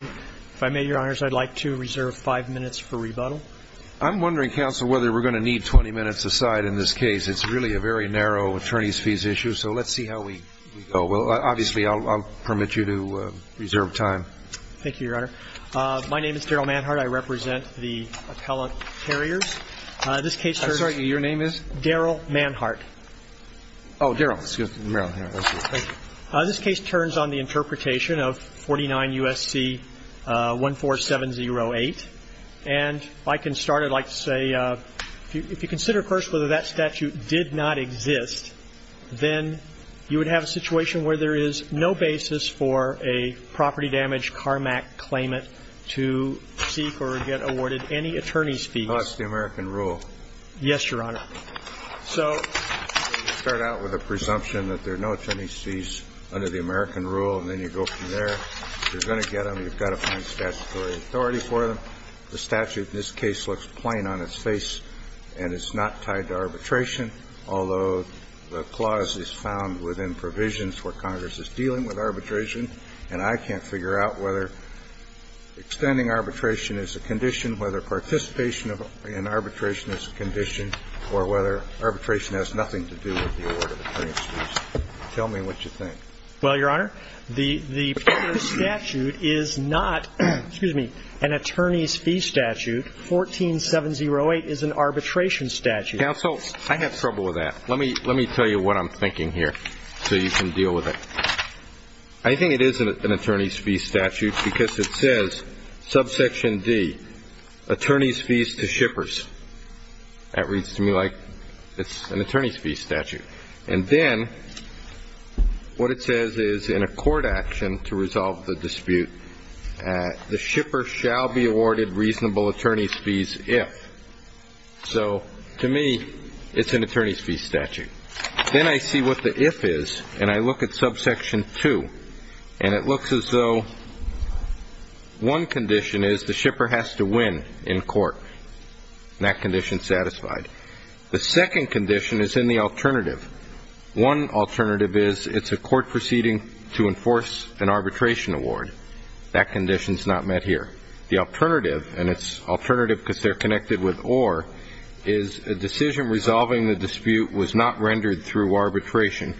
If I may, Your Honors, I'd like to reserve five minutes for rebuttal. I'm wondering, Counsel, whether we're going to need 20 minutes aside in this case. It's really a very narrow attorneys' fees issue, so let's see how we go. Well, obviously, I'll permit you to reserve time. Thank you, Your Honor. My name is Daryl Manhart. I represent the appellate carriers. This case turns to the interpretation of 49 U.S.C. 14708, and if I can start, I'd like to say, if you consider first whether that statute did not exist, then you would have a situation where there is no basis for a property damage CARMAC claimant to seek or get awarded any attorneys' fees. No, that's the American rule. Yes, Your Honor. So you start out with a presumption that there are no attorneys' fees under the American rule, and then you go from there, you're going to get them, you've got to find statutory authority for them. The statute in this case looks plain on its face, and it's not tied to arbitration, although the clause is found within provisions where Congress is dealing with arbitration, and I can't figure out whether extending arbitration is a condition, whether participation in arbitration is a condition, or whether arbitration has nothing to do with the award of attorneys' fees. Tell me what you think. Well, Your Honor, the particular statute is not an attorneys' fee statute. 14708 is an arbitration statute. Counsel, I have trouble with that. Let me tell you what I'm thinking here so you can deal with it. I think it is an attorneys' fee statute because it says, subsection D, attorneys' fees to shippers. That reads to me like it's an attorneys' fee statute. And then what it says is, in a court action to resolve the dispute, the shipper shall be awarded reasonable attorneys' fees if. So to me, it's an attorneys' fee statute. Then I see what the if is, and I look at subsection 2, and it looks as though one condition is the shipper has to win in court, and that condition's satisfied. The second condition is in the alternative. One alternative is it's a court proceeding to enforce an arbitration award. That condition's not met here. The alternative, and it's alternative because they're connected with or, is a decision resolving the dispute was not rendered through arbitration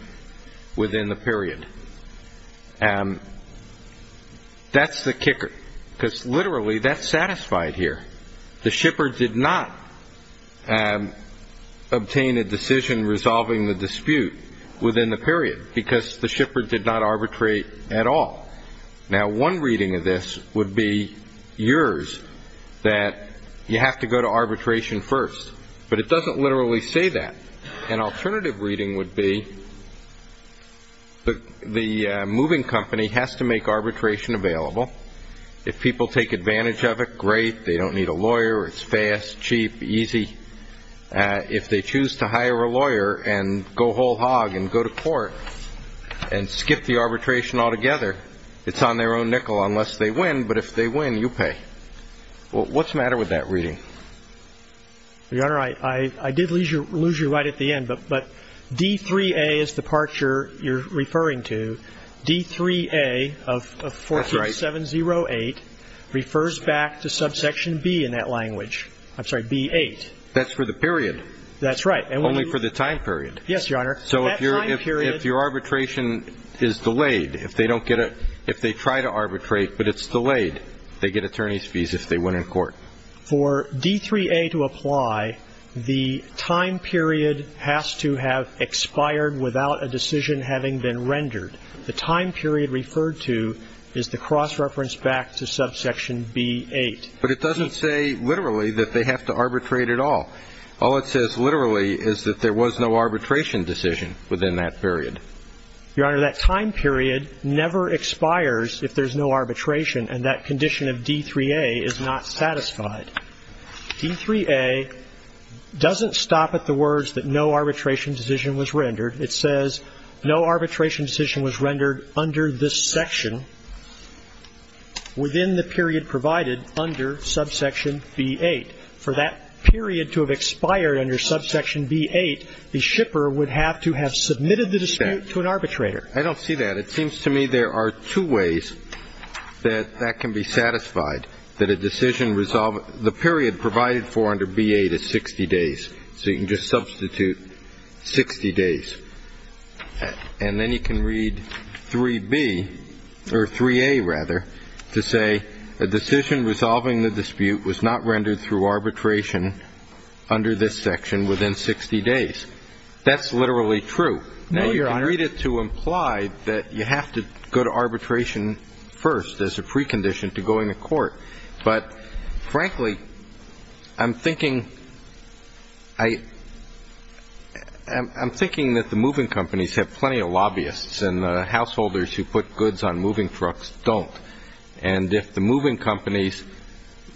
within the period. That's the kicker, because literally, that's satisfied here. The shipper did not obtain a decision resolving the dispute within the period because the shipper did not arbitrate at all. Now, one reading of this would be yours, that you have to go to arbitration first. But it doesn't literally say that. An alternative reading would be the moving company has to make arbitration available. If people take advantage of it, great. They don't need a lawyer. It's fast, cheap, easy. If they choose to hire a lawyer and go whole hog and go to court and skip the arbitration altogether, it's on their own nickel unless they win. But if they win, you pay. What's the matter with that reading? Your Honor, I did lose you right at the end, but D3A is the part you're referring to. D3A of 14708 refers back to subsection B in that language. I'm sorry, B8. That's for the period. That's right. Only for the time period. Yes, Your Honor. So if your arbitration is delayed, if they try to arbitrate but it's delayed, they get attorney's fees if they win in court. For D3A to apply, the time period has to have expired without a decision having been rendered. The time period referred to is the cross-reference back to subsection B8. But it doesn't say literally that they have to arbitrate at all. All it says literally is that there was no arbitration decision within that period. Your Honor, that time period never expires if there's no arbitration, and that condition of D3A is not satisfied. D3A doesn't stop at the words that no arbitration decision was rendered. It says no arbitration decision was rendered under this section within the period provided under subsection B8. For that period to have expired under subsection B8, the shipper would have to have submitted the dispute to an arbitrator. I don't see that. It seems to me there are two ways that that can be satisfied, that a decision resolved the period provided for under B8 is 60 days. So you can just substitute 60 days. And then you can read 3B, or 3A, rather, to say a decision resolving the dispute was not rendered through arbitration under this section within 60 days. That's literally true. Now, you can read it to imply that you have to go to arbitration first as a precondition to going to court. But frankly, I'm thinking that the moving companies have plenty of lobbyists. And the householders who put goods on moving trucks don't. And if the moving companies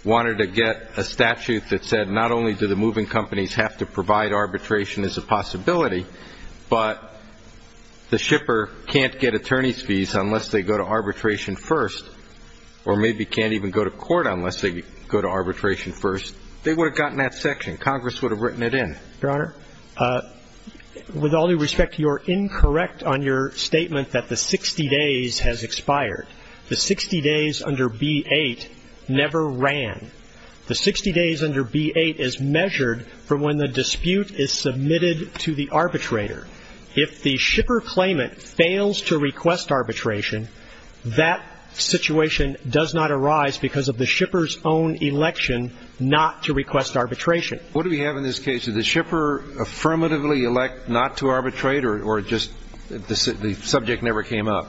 wanted to get a statute that said not only do the moving companies have to provide arbitration as a possibility, but the shipper can't get to court unless they go to arbitration first, they would have gotten that section. Congress would have written it in. Your Honor, with all due respect, you're incorrect on your statement that the 60 days has expired. The 60 days under B8 never ran. The 60 days under B8 is measured from when the dispute is submitted to the arbitrator. If the shipper claimant fails to request arbitration, that situation does not arise because of the shipper's own election not to request arbitration. What do we have in this case? Did the shipper affirmatively elect not to arbitrate or just the subject never came up?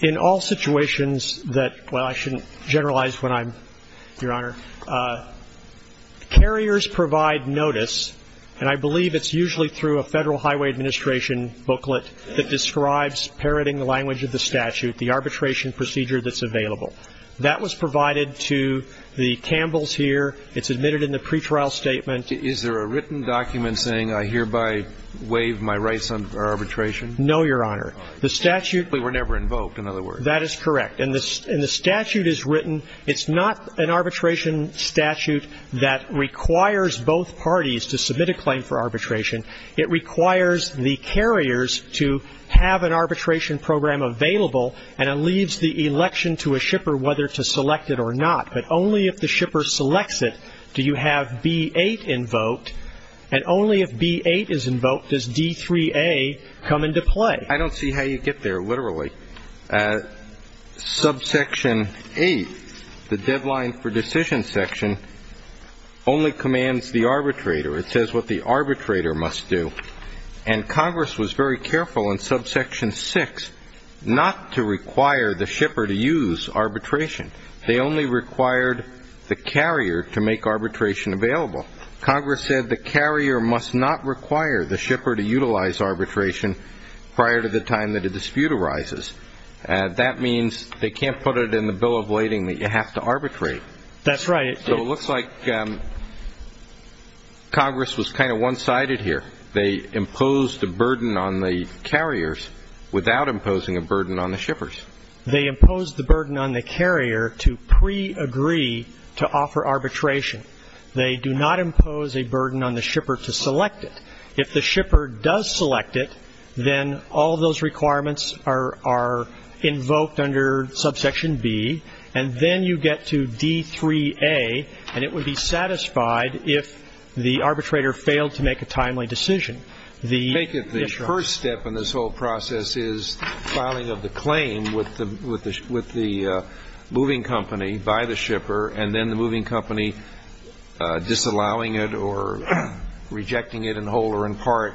In all situations that — well, I shouldn't generalize when I'm — Your Honor, carriers provide notice, and I believe it's usually through a Federal Highway Administration booklet that describes parroting the language of the statute, the arbitration procedure that's available. That was provided to the Campbells here. It's admitted in the pretrial statement. Is there a written document saying, I hereby waive my rights under arbitration? No, Your Honor. The statute — They were never invoked, in other words. That is correct. And the statute is written. It's not an arbitration statute that requires both parties to submit a claim for arbitration. It requires the carriers to have an arbitration program available, and it leaves the election to a shipper whether to select it or not. But only if the shipper selects it do you have B-8 invoked, and only if B-8 is invoked does D-3A come into play. I don't see how you get there, literally. Subsection 8, the deadline for decision section, only commands the arbitrator. It says what the arbitrator must do. And Congress was very careful in subsection 6 not to require the shipper to use arbitration. They only required the carrier to make arbitration available. Congress said the carrier must not require the shipper to utilize arbitration prior to the time that a dispute arises. That means they can't put it in the bill of lading that you have to arbitrate. That's right. So it looks like Congress was kind of one-sided here. They imposed a burden on the carriers without imposing a burden on the shippers. They imposed the burden on the carrier to pre-agree to offer arbitration. They do not impose a burden on the shipper to select it. If the shipper does select it, then all those requirements are invoked under subsection B, and then you get to D3A, and it would be satisfied if the arbitrator failed to make a timely decision. I think if the first step in this whole process is filing of the claim with the moving company by the shipper, and then the moving company disallowing it or rejecting it in whole or in part,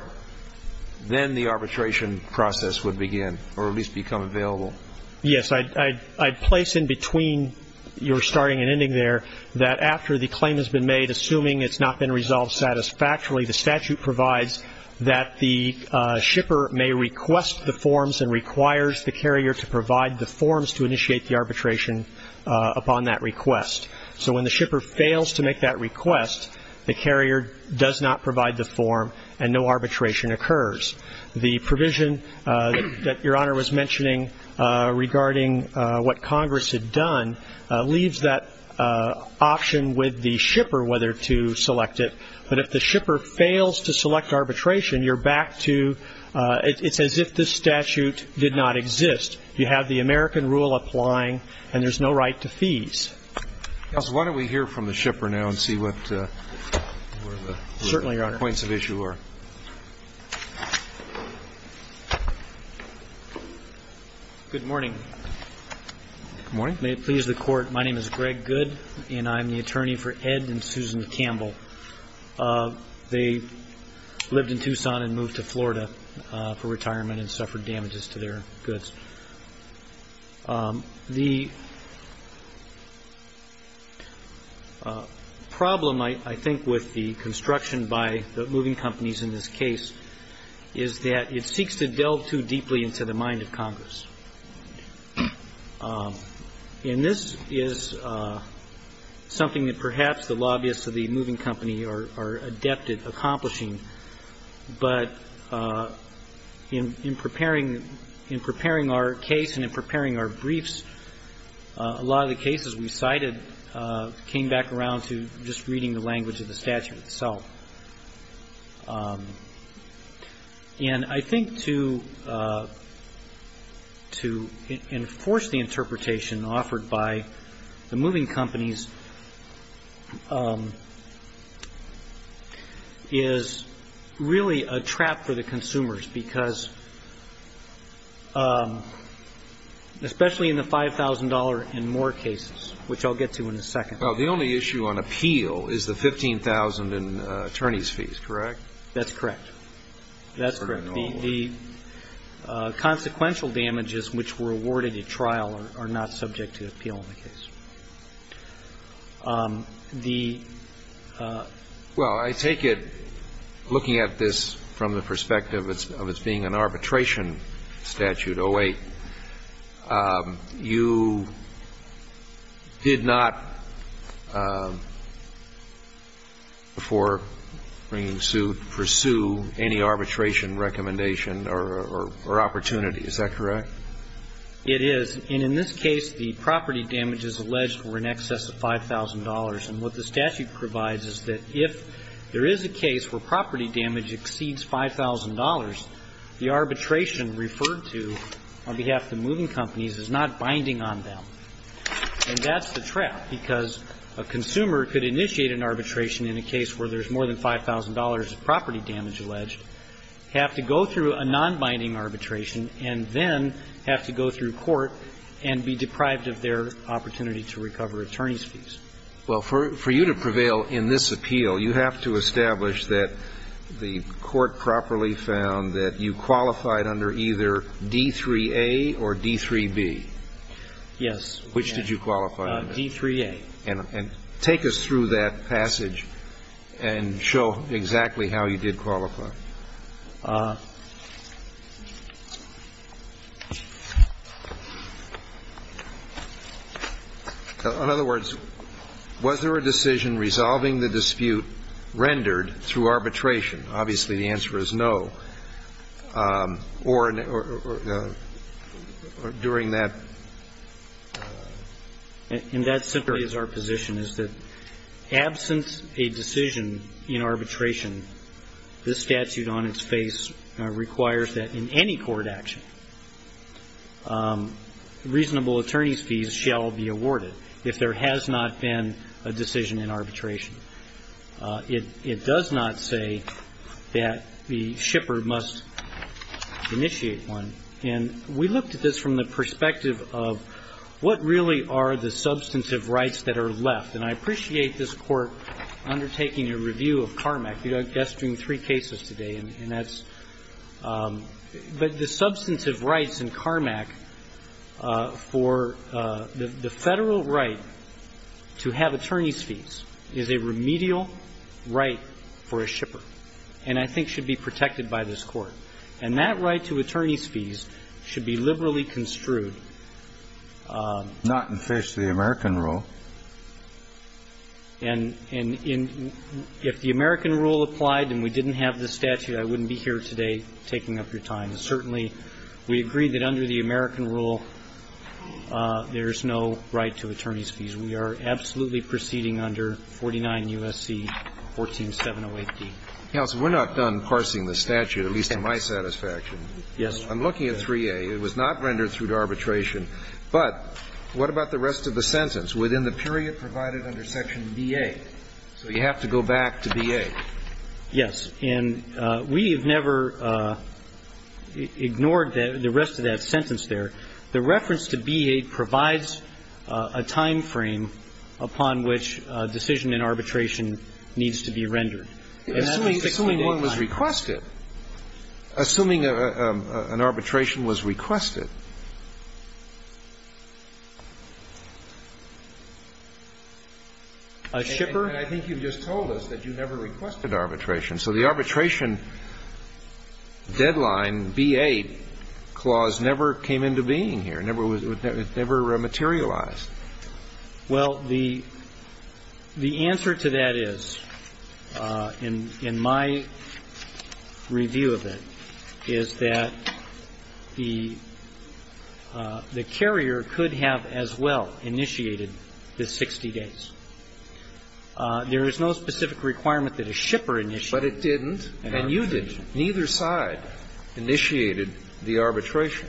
then the arbitration process would begin, or at least become available. Yes. I'd place in between your starting and ending there that after the claim has been made, assuming it's not been resolved satisfactorily, the statute provides that the shipper may request the forms and requires the carrier to provide the forms to initiate the arbitration upon that request. So when the shipper fails to make that request, the carrier does not provide the form and no arbitration occurs. The provision that Your Honor was mentioning regarding what Congress had done leaves that option with the shipper whether to select it, but if the shipper fails to select arbitration, you're back to, it's as if this statute did not exist. You have the American rule applying, and there's no right to fees. Counsel, why don't we hear from the shipper now and see what the points of issue are. Certainly, Your Honor. Good morning. Good morning. May it please the Court, my name is Greg Goode, and I'm the attorney for Ed and Susan Campbell. They lived in Tucson and moved to Florida for retirement and suffered damages to their goods. The problem, I think, with the construction by the moving companies is that the in this case is that it seeks to delve too deeply into the mind of Congress. And this is something that perhaps the lobbyists of the moving company are adept at accomplishing, but in preparing our case and in preparing our briefs, a lot of the cases we cited came back around to just reading the language of the statute itself. And I think to enforce the interpretation offered by the moving companies is really a trap for the consumers, because especially in the $5,000 and more cases, which I'll get to in a second. Well, the only issue on appeal is the $15,000 in attorney's fees, correct? That's correct. That's correct. The consequential damages which were awarded at trial are not subject to appeal in the case. Well, I take it, looking at this from the perspective of its being an arbitration statute, 08, you did not, before bringing suit, pursue any arbitration recommendation or opportunity, is that correct? It is. And in this case, the property damage is alleged for in excess of $5,000. And what the statute provides is that if there is a case where property damage exceeds $5,000, the arbitration referred to on behalf of the moving companies is not binding on them. And that's the trap, because a consumer could initiate an arbitration in a case where there's more than $5,000 of property damage alleged, have to go through a nonbinding arbitration, and then have to go through court and be deprived of their opportunity to recover attorney's fees. Well, for you to prevail in this appeal, you have to establish that the court properly found that you qualified under either D3A or D3B. Yes. Which did you qualify under? D3A. And take us through that passage and show exactly how you did qualify. In other words, was there a decision resolving the dispute rendered through arbitration? Obviously, the answer is no. Or during that? And that simply is our position, is that absent a decision in arbitration, this statute is not binding. requires that in any court action, reasonable attorney's fees shall be awarded, if there has not been a decision in arbitration. It does not say that the shipper must initiate one. And we looked at this from the perspective of what really are the substantive rights that are left. And I appreciate this Court undertaking a review of CARMAC. I'll be gesturing three cases today, and that's the substantive rights in CARMAC for the Federal right to have attorney's fees is a remedial right for a shipper and I think should be protected by this Court. And that right to attorney's fees should be liberally construed. Not in face of the American rule. And if the American rule applied and we didn't have the statute, I wouldn't be here today taking up your time. Certainly, we agree that under the American rule, there is no right to attorney's fees. We are absolutely proceeding under 49 U.S.C. 14708d. Counsel, we're not done parsing the statute, at least to my satisfaction. Yes. I'm looking at 3A. It was not rendered through arbitration. But what about the rest of the sentence? Within the period provided under Section B.A. So you have to go back to B.A. Yes. And we have never ignored the rest of that sentence there. The reference to B.A. provides a timeframe upon which a decision in arbitration needs to be rendered. Assuming one was requested. Assuming an arbitration was requested. A shipper? And I think you just told us that you never requested arbitration. So the arbitration deadline, B.A. clause, never came into being here. It never materialized. Well, the answer to that is, in my review of it, is that the arbitration deadline the carrier could have as well initiated the 60 days. There is no specific requirement that a shipper initiate. But it didn't. And you didn't. Neither side initiated the arbitration.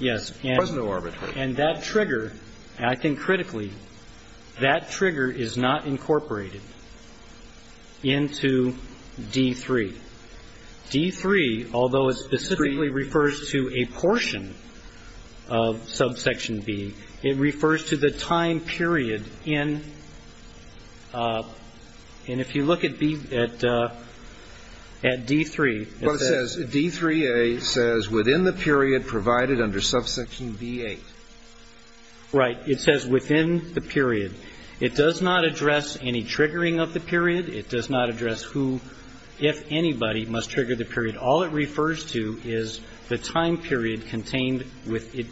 Yes. There was no arbitration. And that trigger, and I think critically, that trigger is not incorporated into D.3. D.3, although it specifically refers to a portion of subsection B, it refers to the time period in. And if you look at D.3. D.3.A. says within the period provided under subsection B.A. Right. It says within the period. It does not address any triggering of the period. It does not address who, if anybody, must trigger the period. All it refers to is the time period contained with it.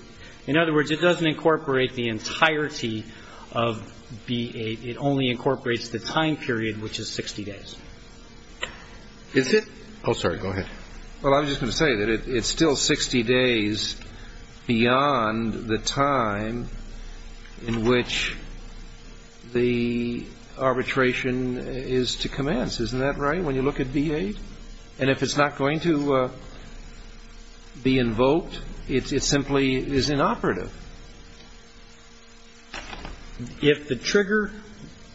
In other words, it doesn't incorporate the entirety of B.A. It only incorporates the time period, which is 60 days. Is it? Oh, sorry. Go ahead. Well, I was just going to say that it's still 60 days beyond the time in which the arbitration is to commence. Isn't that right, when you look at B.A.? And if it's not going to be invoked, it simply is inoperative. If the trigger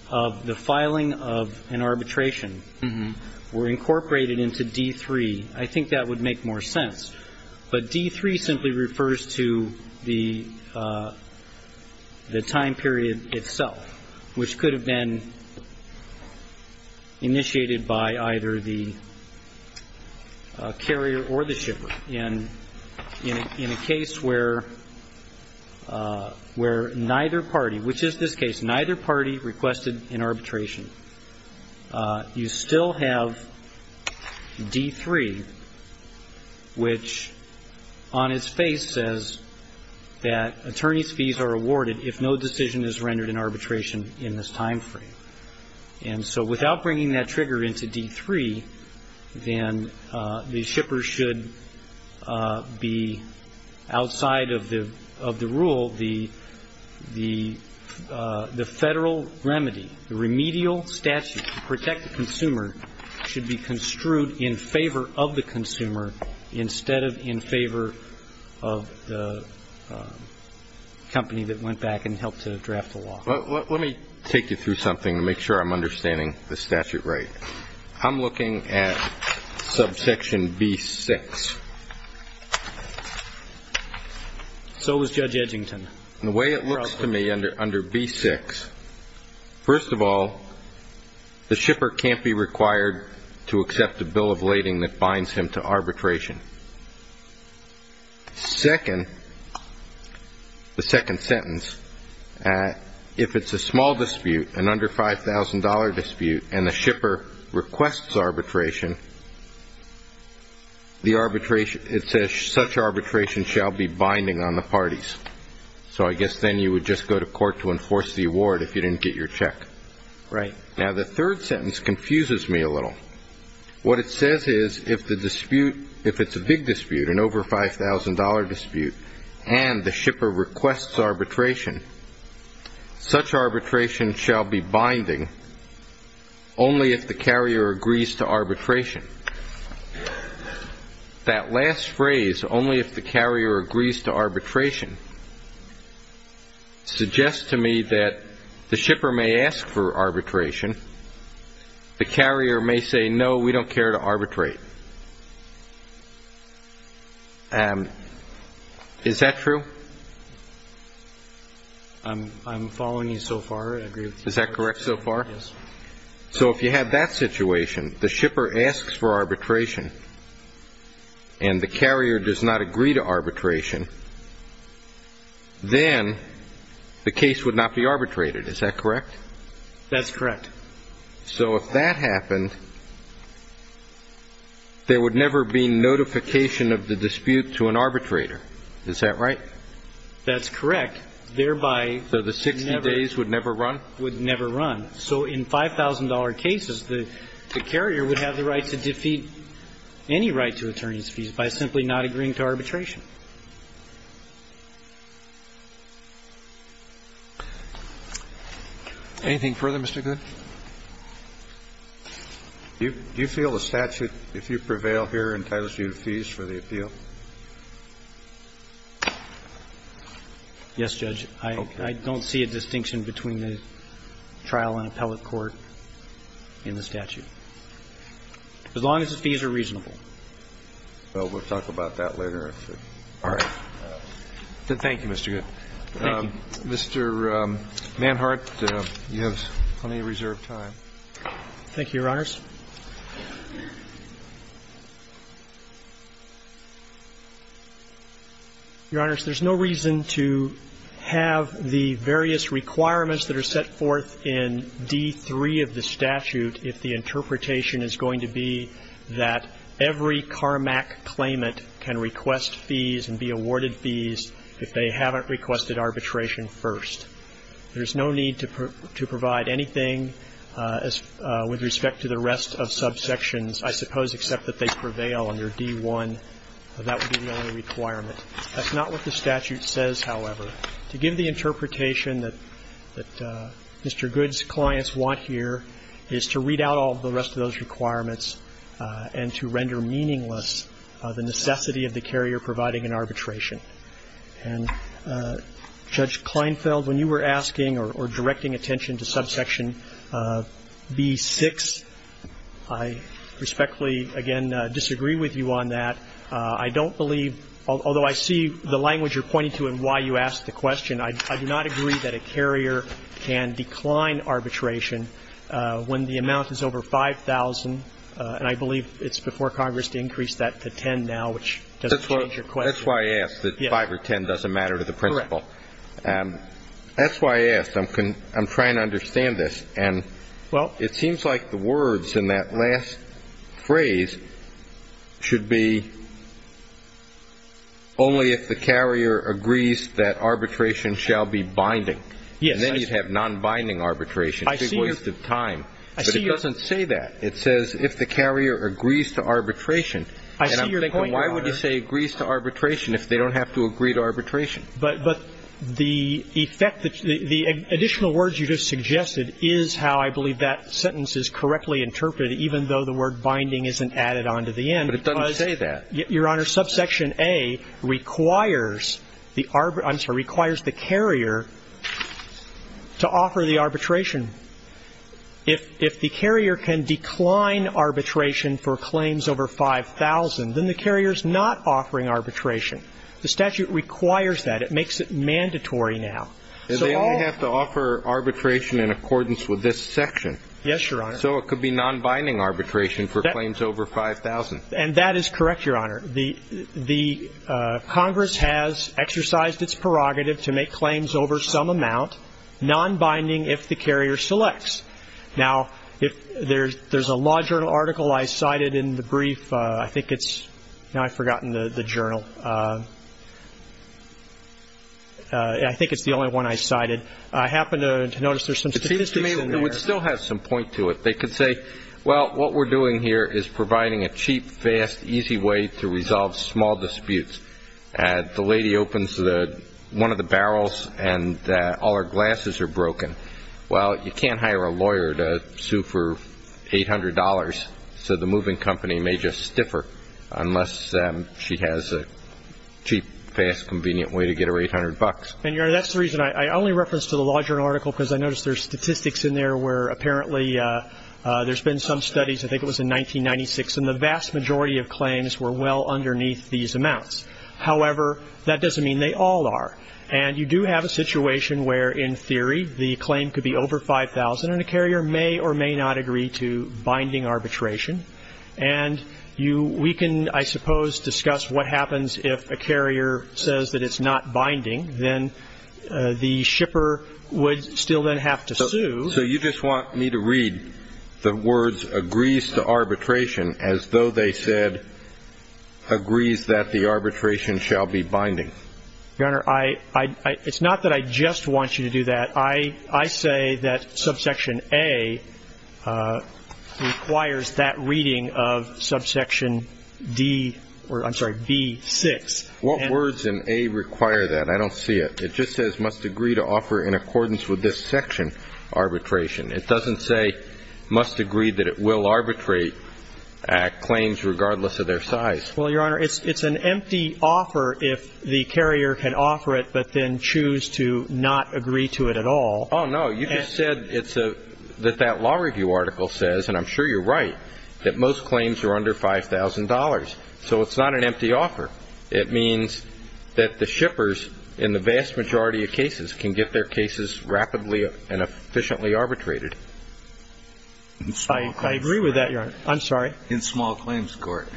of the filing of an arbitration were incorporated into D.3., I think that would make more sense. But D.3. simply refers to the time period itself, which could have been initiated by either the carrier or the shipper. In a case where neither party, which is this case, neither party requested an arbitration, you still have D.3., which on its face says that attorney's fees are awarded if no decision is rendered in arbitration in this time frame. And so without bringing that trigger into D.3., then the shipper should be outside of the rule, the federal remedy, the remedial statute to protect the consumer should be construed in favor of the consumer instead of in favor of the company that went back and helped to draft the law. Let me take you through something to make sure I'm understanding the statute right. I'm looking at subsection B.6. So was Judge Edgington. The way it looks to me under B.6, first of all, the shipper can't be required to accept a bill of lading that binds him to arbitration. Second, the second sentence, if it's a small dispute, an under $5,000 dispute, and the shipper requests arbitration, it says such arbitration shall be binding on the parties. So I guess then you would just go to court to enforce the award if you didn't get your check. Right. Now, the third sentence confuses me a little. What it says is if it's a big dispute, an over $5,000 dispute, and the shipper requests arbitration, such arbitration shall be binding only if the carrier agrees to arbitration. That last phrase, only if the carrier agrees to arbitration, suggests to me that the shipper may ask for arbitration, the carrier may say, no, we don't care to arbitrate. Is that true? I'm following you so far. Is that correct so far? Yes. So if you have that situation, the shipper asks for arbitration, and the carrier does not agree to arbitration, then the case would not be arbitrated. Is that correct? That's correct. So if that happened, there would never be notification of the dispute to an arbitrator. Is that right? That's correct. Thereby, would never. So the 60 days would never run? Would never run. So in $5,000 cases, the carrier would have the right to defeat any right to attorney's fees by simply not agreeing to arbitration. Anything further, Mr. Good? Do you feel the statute, if you prevail here, entitles you to fees for the appeal? Yes, Judge. I don't see a distinction between the trial in appellate court and the statute, as long as the fees are reasonable. So we'll talk about that later. All right. Thank you, Mr. Good. Thank you. Mr. Manhart, you have plenty of reserved time. Thank you, Your Honors. Your Honors, there's no reason to have the various requirements that are set forth in D.3 of the statute if the interpretation is going to be that every CARMAC claimant can request fees and be awarded fees if they haven't requested arbitration first. There's no need to provide anything with respect to the rest of subsections, I suppose, except that they prevail under D.1. That would be the only requirement. That's not what the statute says, however. To give the interpretation that Mr. Good's clients want here is to read out all the rest of those requirements and to render meaningless the necessity of the carrier providing an arbitration. And, Judge Kleinfeld, when you were asking or directing attention to subsection B.6, I respectfully, again, disagree with you on that. I don't believe, although I see the language you're pointing to and why you asked the question, I do not agree that a carrier can decline arbitration when the amount is over $5,000. And I believe it's before Congress to increase that to $10,000 now, which doesn't change your question. That's why I asked, that $5,000 or $10,000 doesn't matter to the principle. Correct. That's why I asked. I'm trying to understand this. And it seems like the words in that last phrase should be only if the carrier agrees that arbitration shall be binding. Yes. And then you'd have non-binding arbitration, a big waste of time. But it doesn't say that. It says if the carrier agrees to arbitration. And I'm thinking why would you say agrees to arbitration if they don't have to agree to arbitration? But the effect that the additional words you just suggested is how I believe that sentence is correctly interpreted, even though the word binding isn't added on to the end. But it doesn't say that. Your Honor, subsection A requires the carrier to offer the arbitration. If the carrier can decline arbitration for claims over $5,000, then the carrier is not offering arbitration. The statute requires that. It makes it mandatory now. They only have to offer arbitration in accordance with this section. Yes, Your Honor. So it could be non-binding arbitration for claims over $5,000. And that is correct, Your Honor. The Congress has exercised its prerogative to make claims over some amount non-binding if the carrier selects. Now, there's a law journal article I cited in the brief. Now I've forgotten the journal. I think it's the only one I cited. I happen to notice there's some statistics in there. It still has some point to it. They could say, well, what we're doing here is providing a cheap, fast, easy way to resolve small disputes. The lady opens one of the barrels and all her glasses are broken. Well, you can't hire a lawyer to sue for $800. So the moving company may just stiffer unless she has a cheap, fast, convenient way to get her $800. And, Your Honor, that's the reason I only reference to the law journal article because I notice there's statistics in there where apparently there's been some studies, I think it was in 1996, and the vast majority of claims were well underneath these amounts. However, that doesn't mean they all are. And you do have a situation where, in theory, the claim could be over $5,000, and a carrier may or may not agree to binding arbitration. And we can, I suppose, discuss what happens if a carrier says that it's not binding. Then the shipper would still then have to sue. So you just want me to read the words agrees to arbitration as though they said agrees that the arbitration shall be binding? Your Honor, it's not that I just want you to do that. I say that subsection A requires that reading of subsection D or, I'm sorry, B6. What words in A require that? I don't see it. It just says must agree to offer in accordance with this section arbitration. It doesn't say must agree that it will arbitrate claims regardless of their size. Well, Your Honor, it's an empty offer if the carrier can offer it but then choose to not agree to it at all. Oh, no. You just said that that law review article says, and I'm sure you're right, that most claims are under $5,000. So it's not an empty offer. It means that the shippers in the vast majority of cases can get their cases rapidly and efficiently arbitrated. I agree with that, Your Honor. I'm sorry. In small claims court.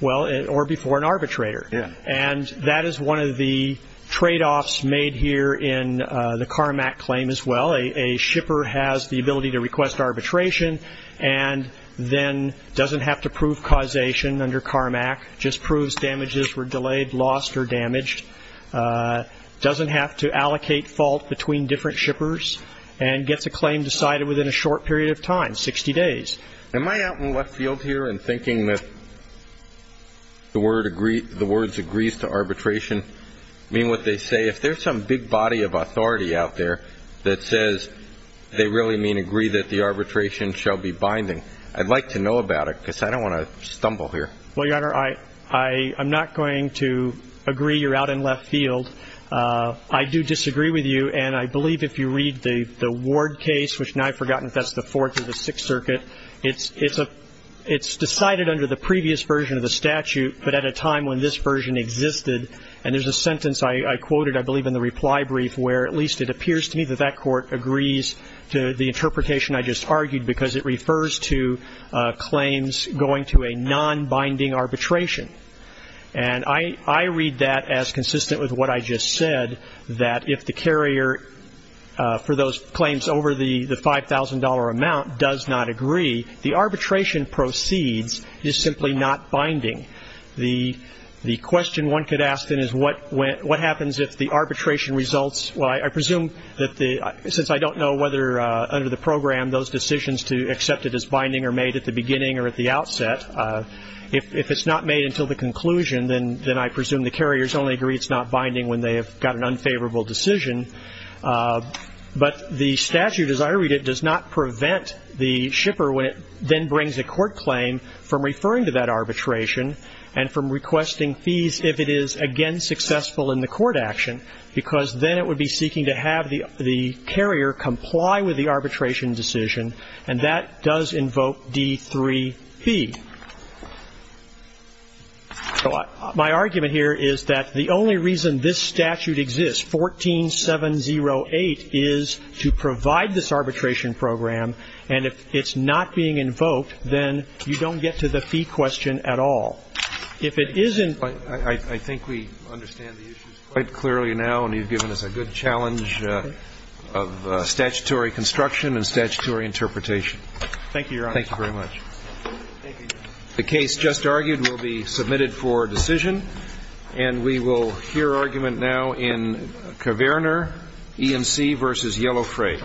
Well, or before an arbitrator. Yeah. And that is one of the tradeoffs made here in the Carmack claim as well. A shipper has the ability to request arbitration and then doesn't have to prove causation under Carmack, just proves damages were delayed, lost, or damaged, doesn't have to allocate fault between different shippers, and gets a claim decided within a short period of time, 60 days. Am I out in left field here in thinking that the words agrees to arbitration mean what they say? If there's some big body of authority out there that says they really mean agree that the arbitration shall be binding, I'd like to know about it because I don't want to stumble here. Well, Your Honor, I'm not going to agree you're out in left field. I do disagree with you, and I believe if you read the Ward case, which now I've forgotten if that's the It's decided under the previous version of the statute, but at a time when this version existed, and there's a sentence I quoted, I believe, in the reply brief where at least it appears to me that that court agrees to the interpretation I just argued because it refers to claims going to a non-binding arbitration. And I read that as consistent with what I just said, that if the carrier for those claims over the $5,000 amount does not agree, the arbitration proceeds is simply not binding. The question one could ask then is what happens if the arbitration results? Well, I presume that since I don't know whether under the program those decisions to accept it as binding are made at the beginning or at the outset, if it's not made until the conclusion, then I presume the carriers only agree it's not binding when they have got an unfavorable decision. But the statute, as I read it, does not prevent the shipper when it then brings a court claim from referring to that arbitration and from requesting fees if it is, again, successful in the court action because then it would be seeking to have the carrier comply with the arbitration decision, and that does invoke D3P. So my argument here is that the only reason this statute exists, 14708, is to provide this arbitration program, and if it's not being invoked, then you don't get to the fee question at all. If it isn't ---- I think we understand the issues quite clearly now, and you've given us a good challenge of statutory construction and statutory interpretation. Thank you, Your Honor. Thank you very much. Thank you. The case just argued will be submitted for decision, and we will hear argument now in Kverner, E&C v. Yellow Freight.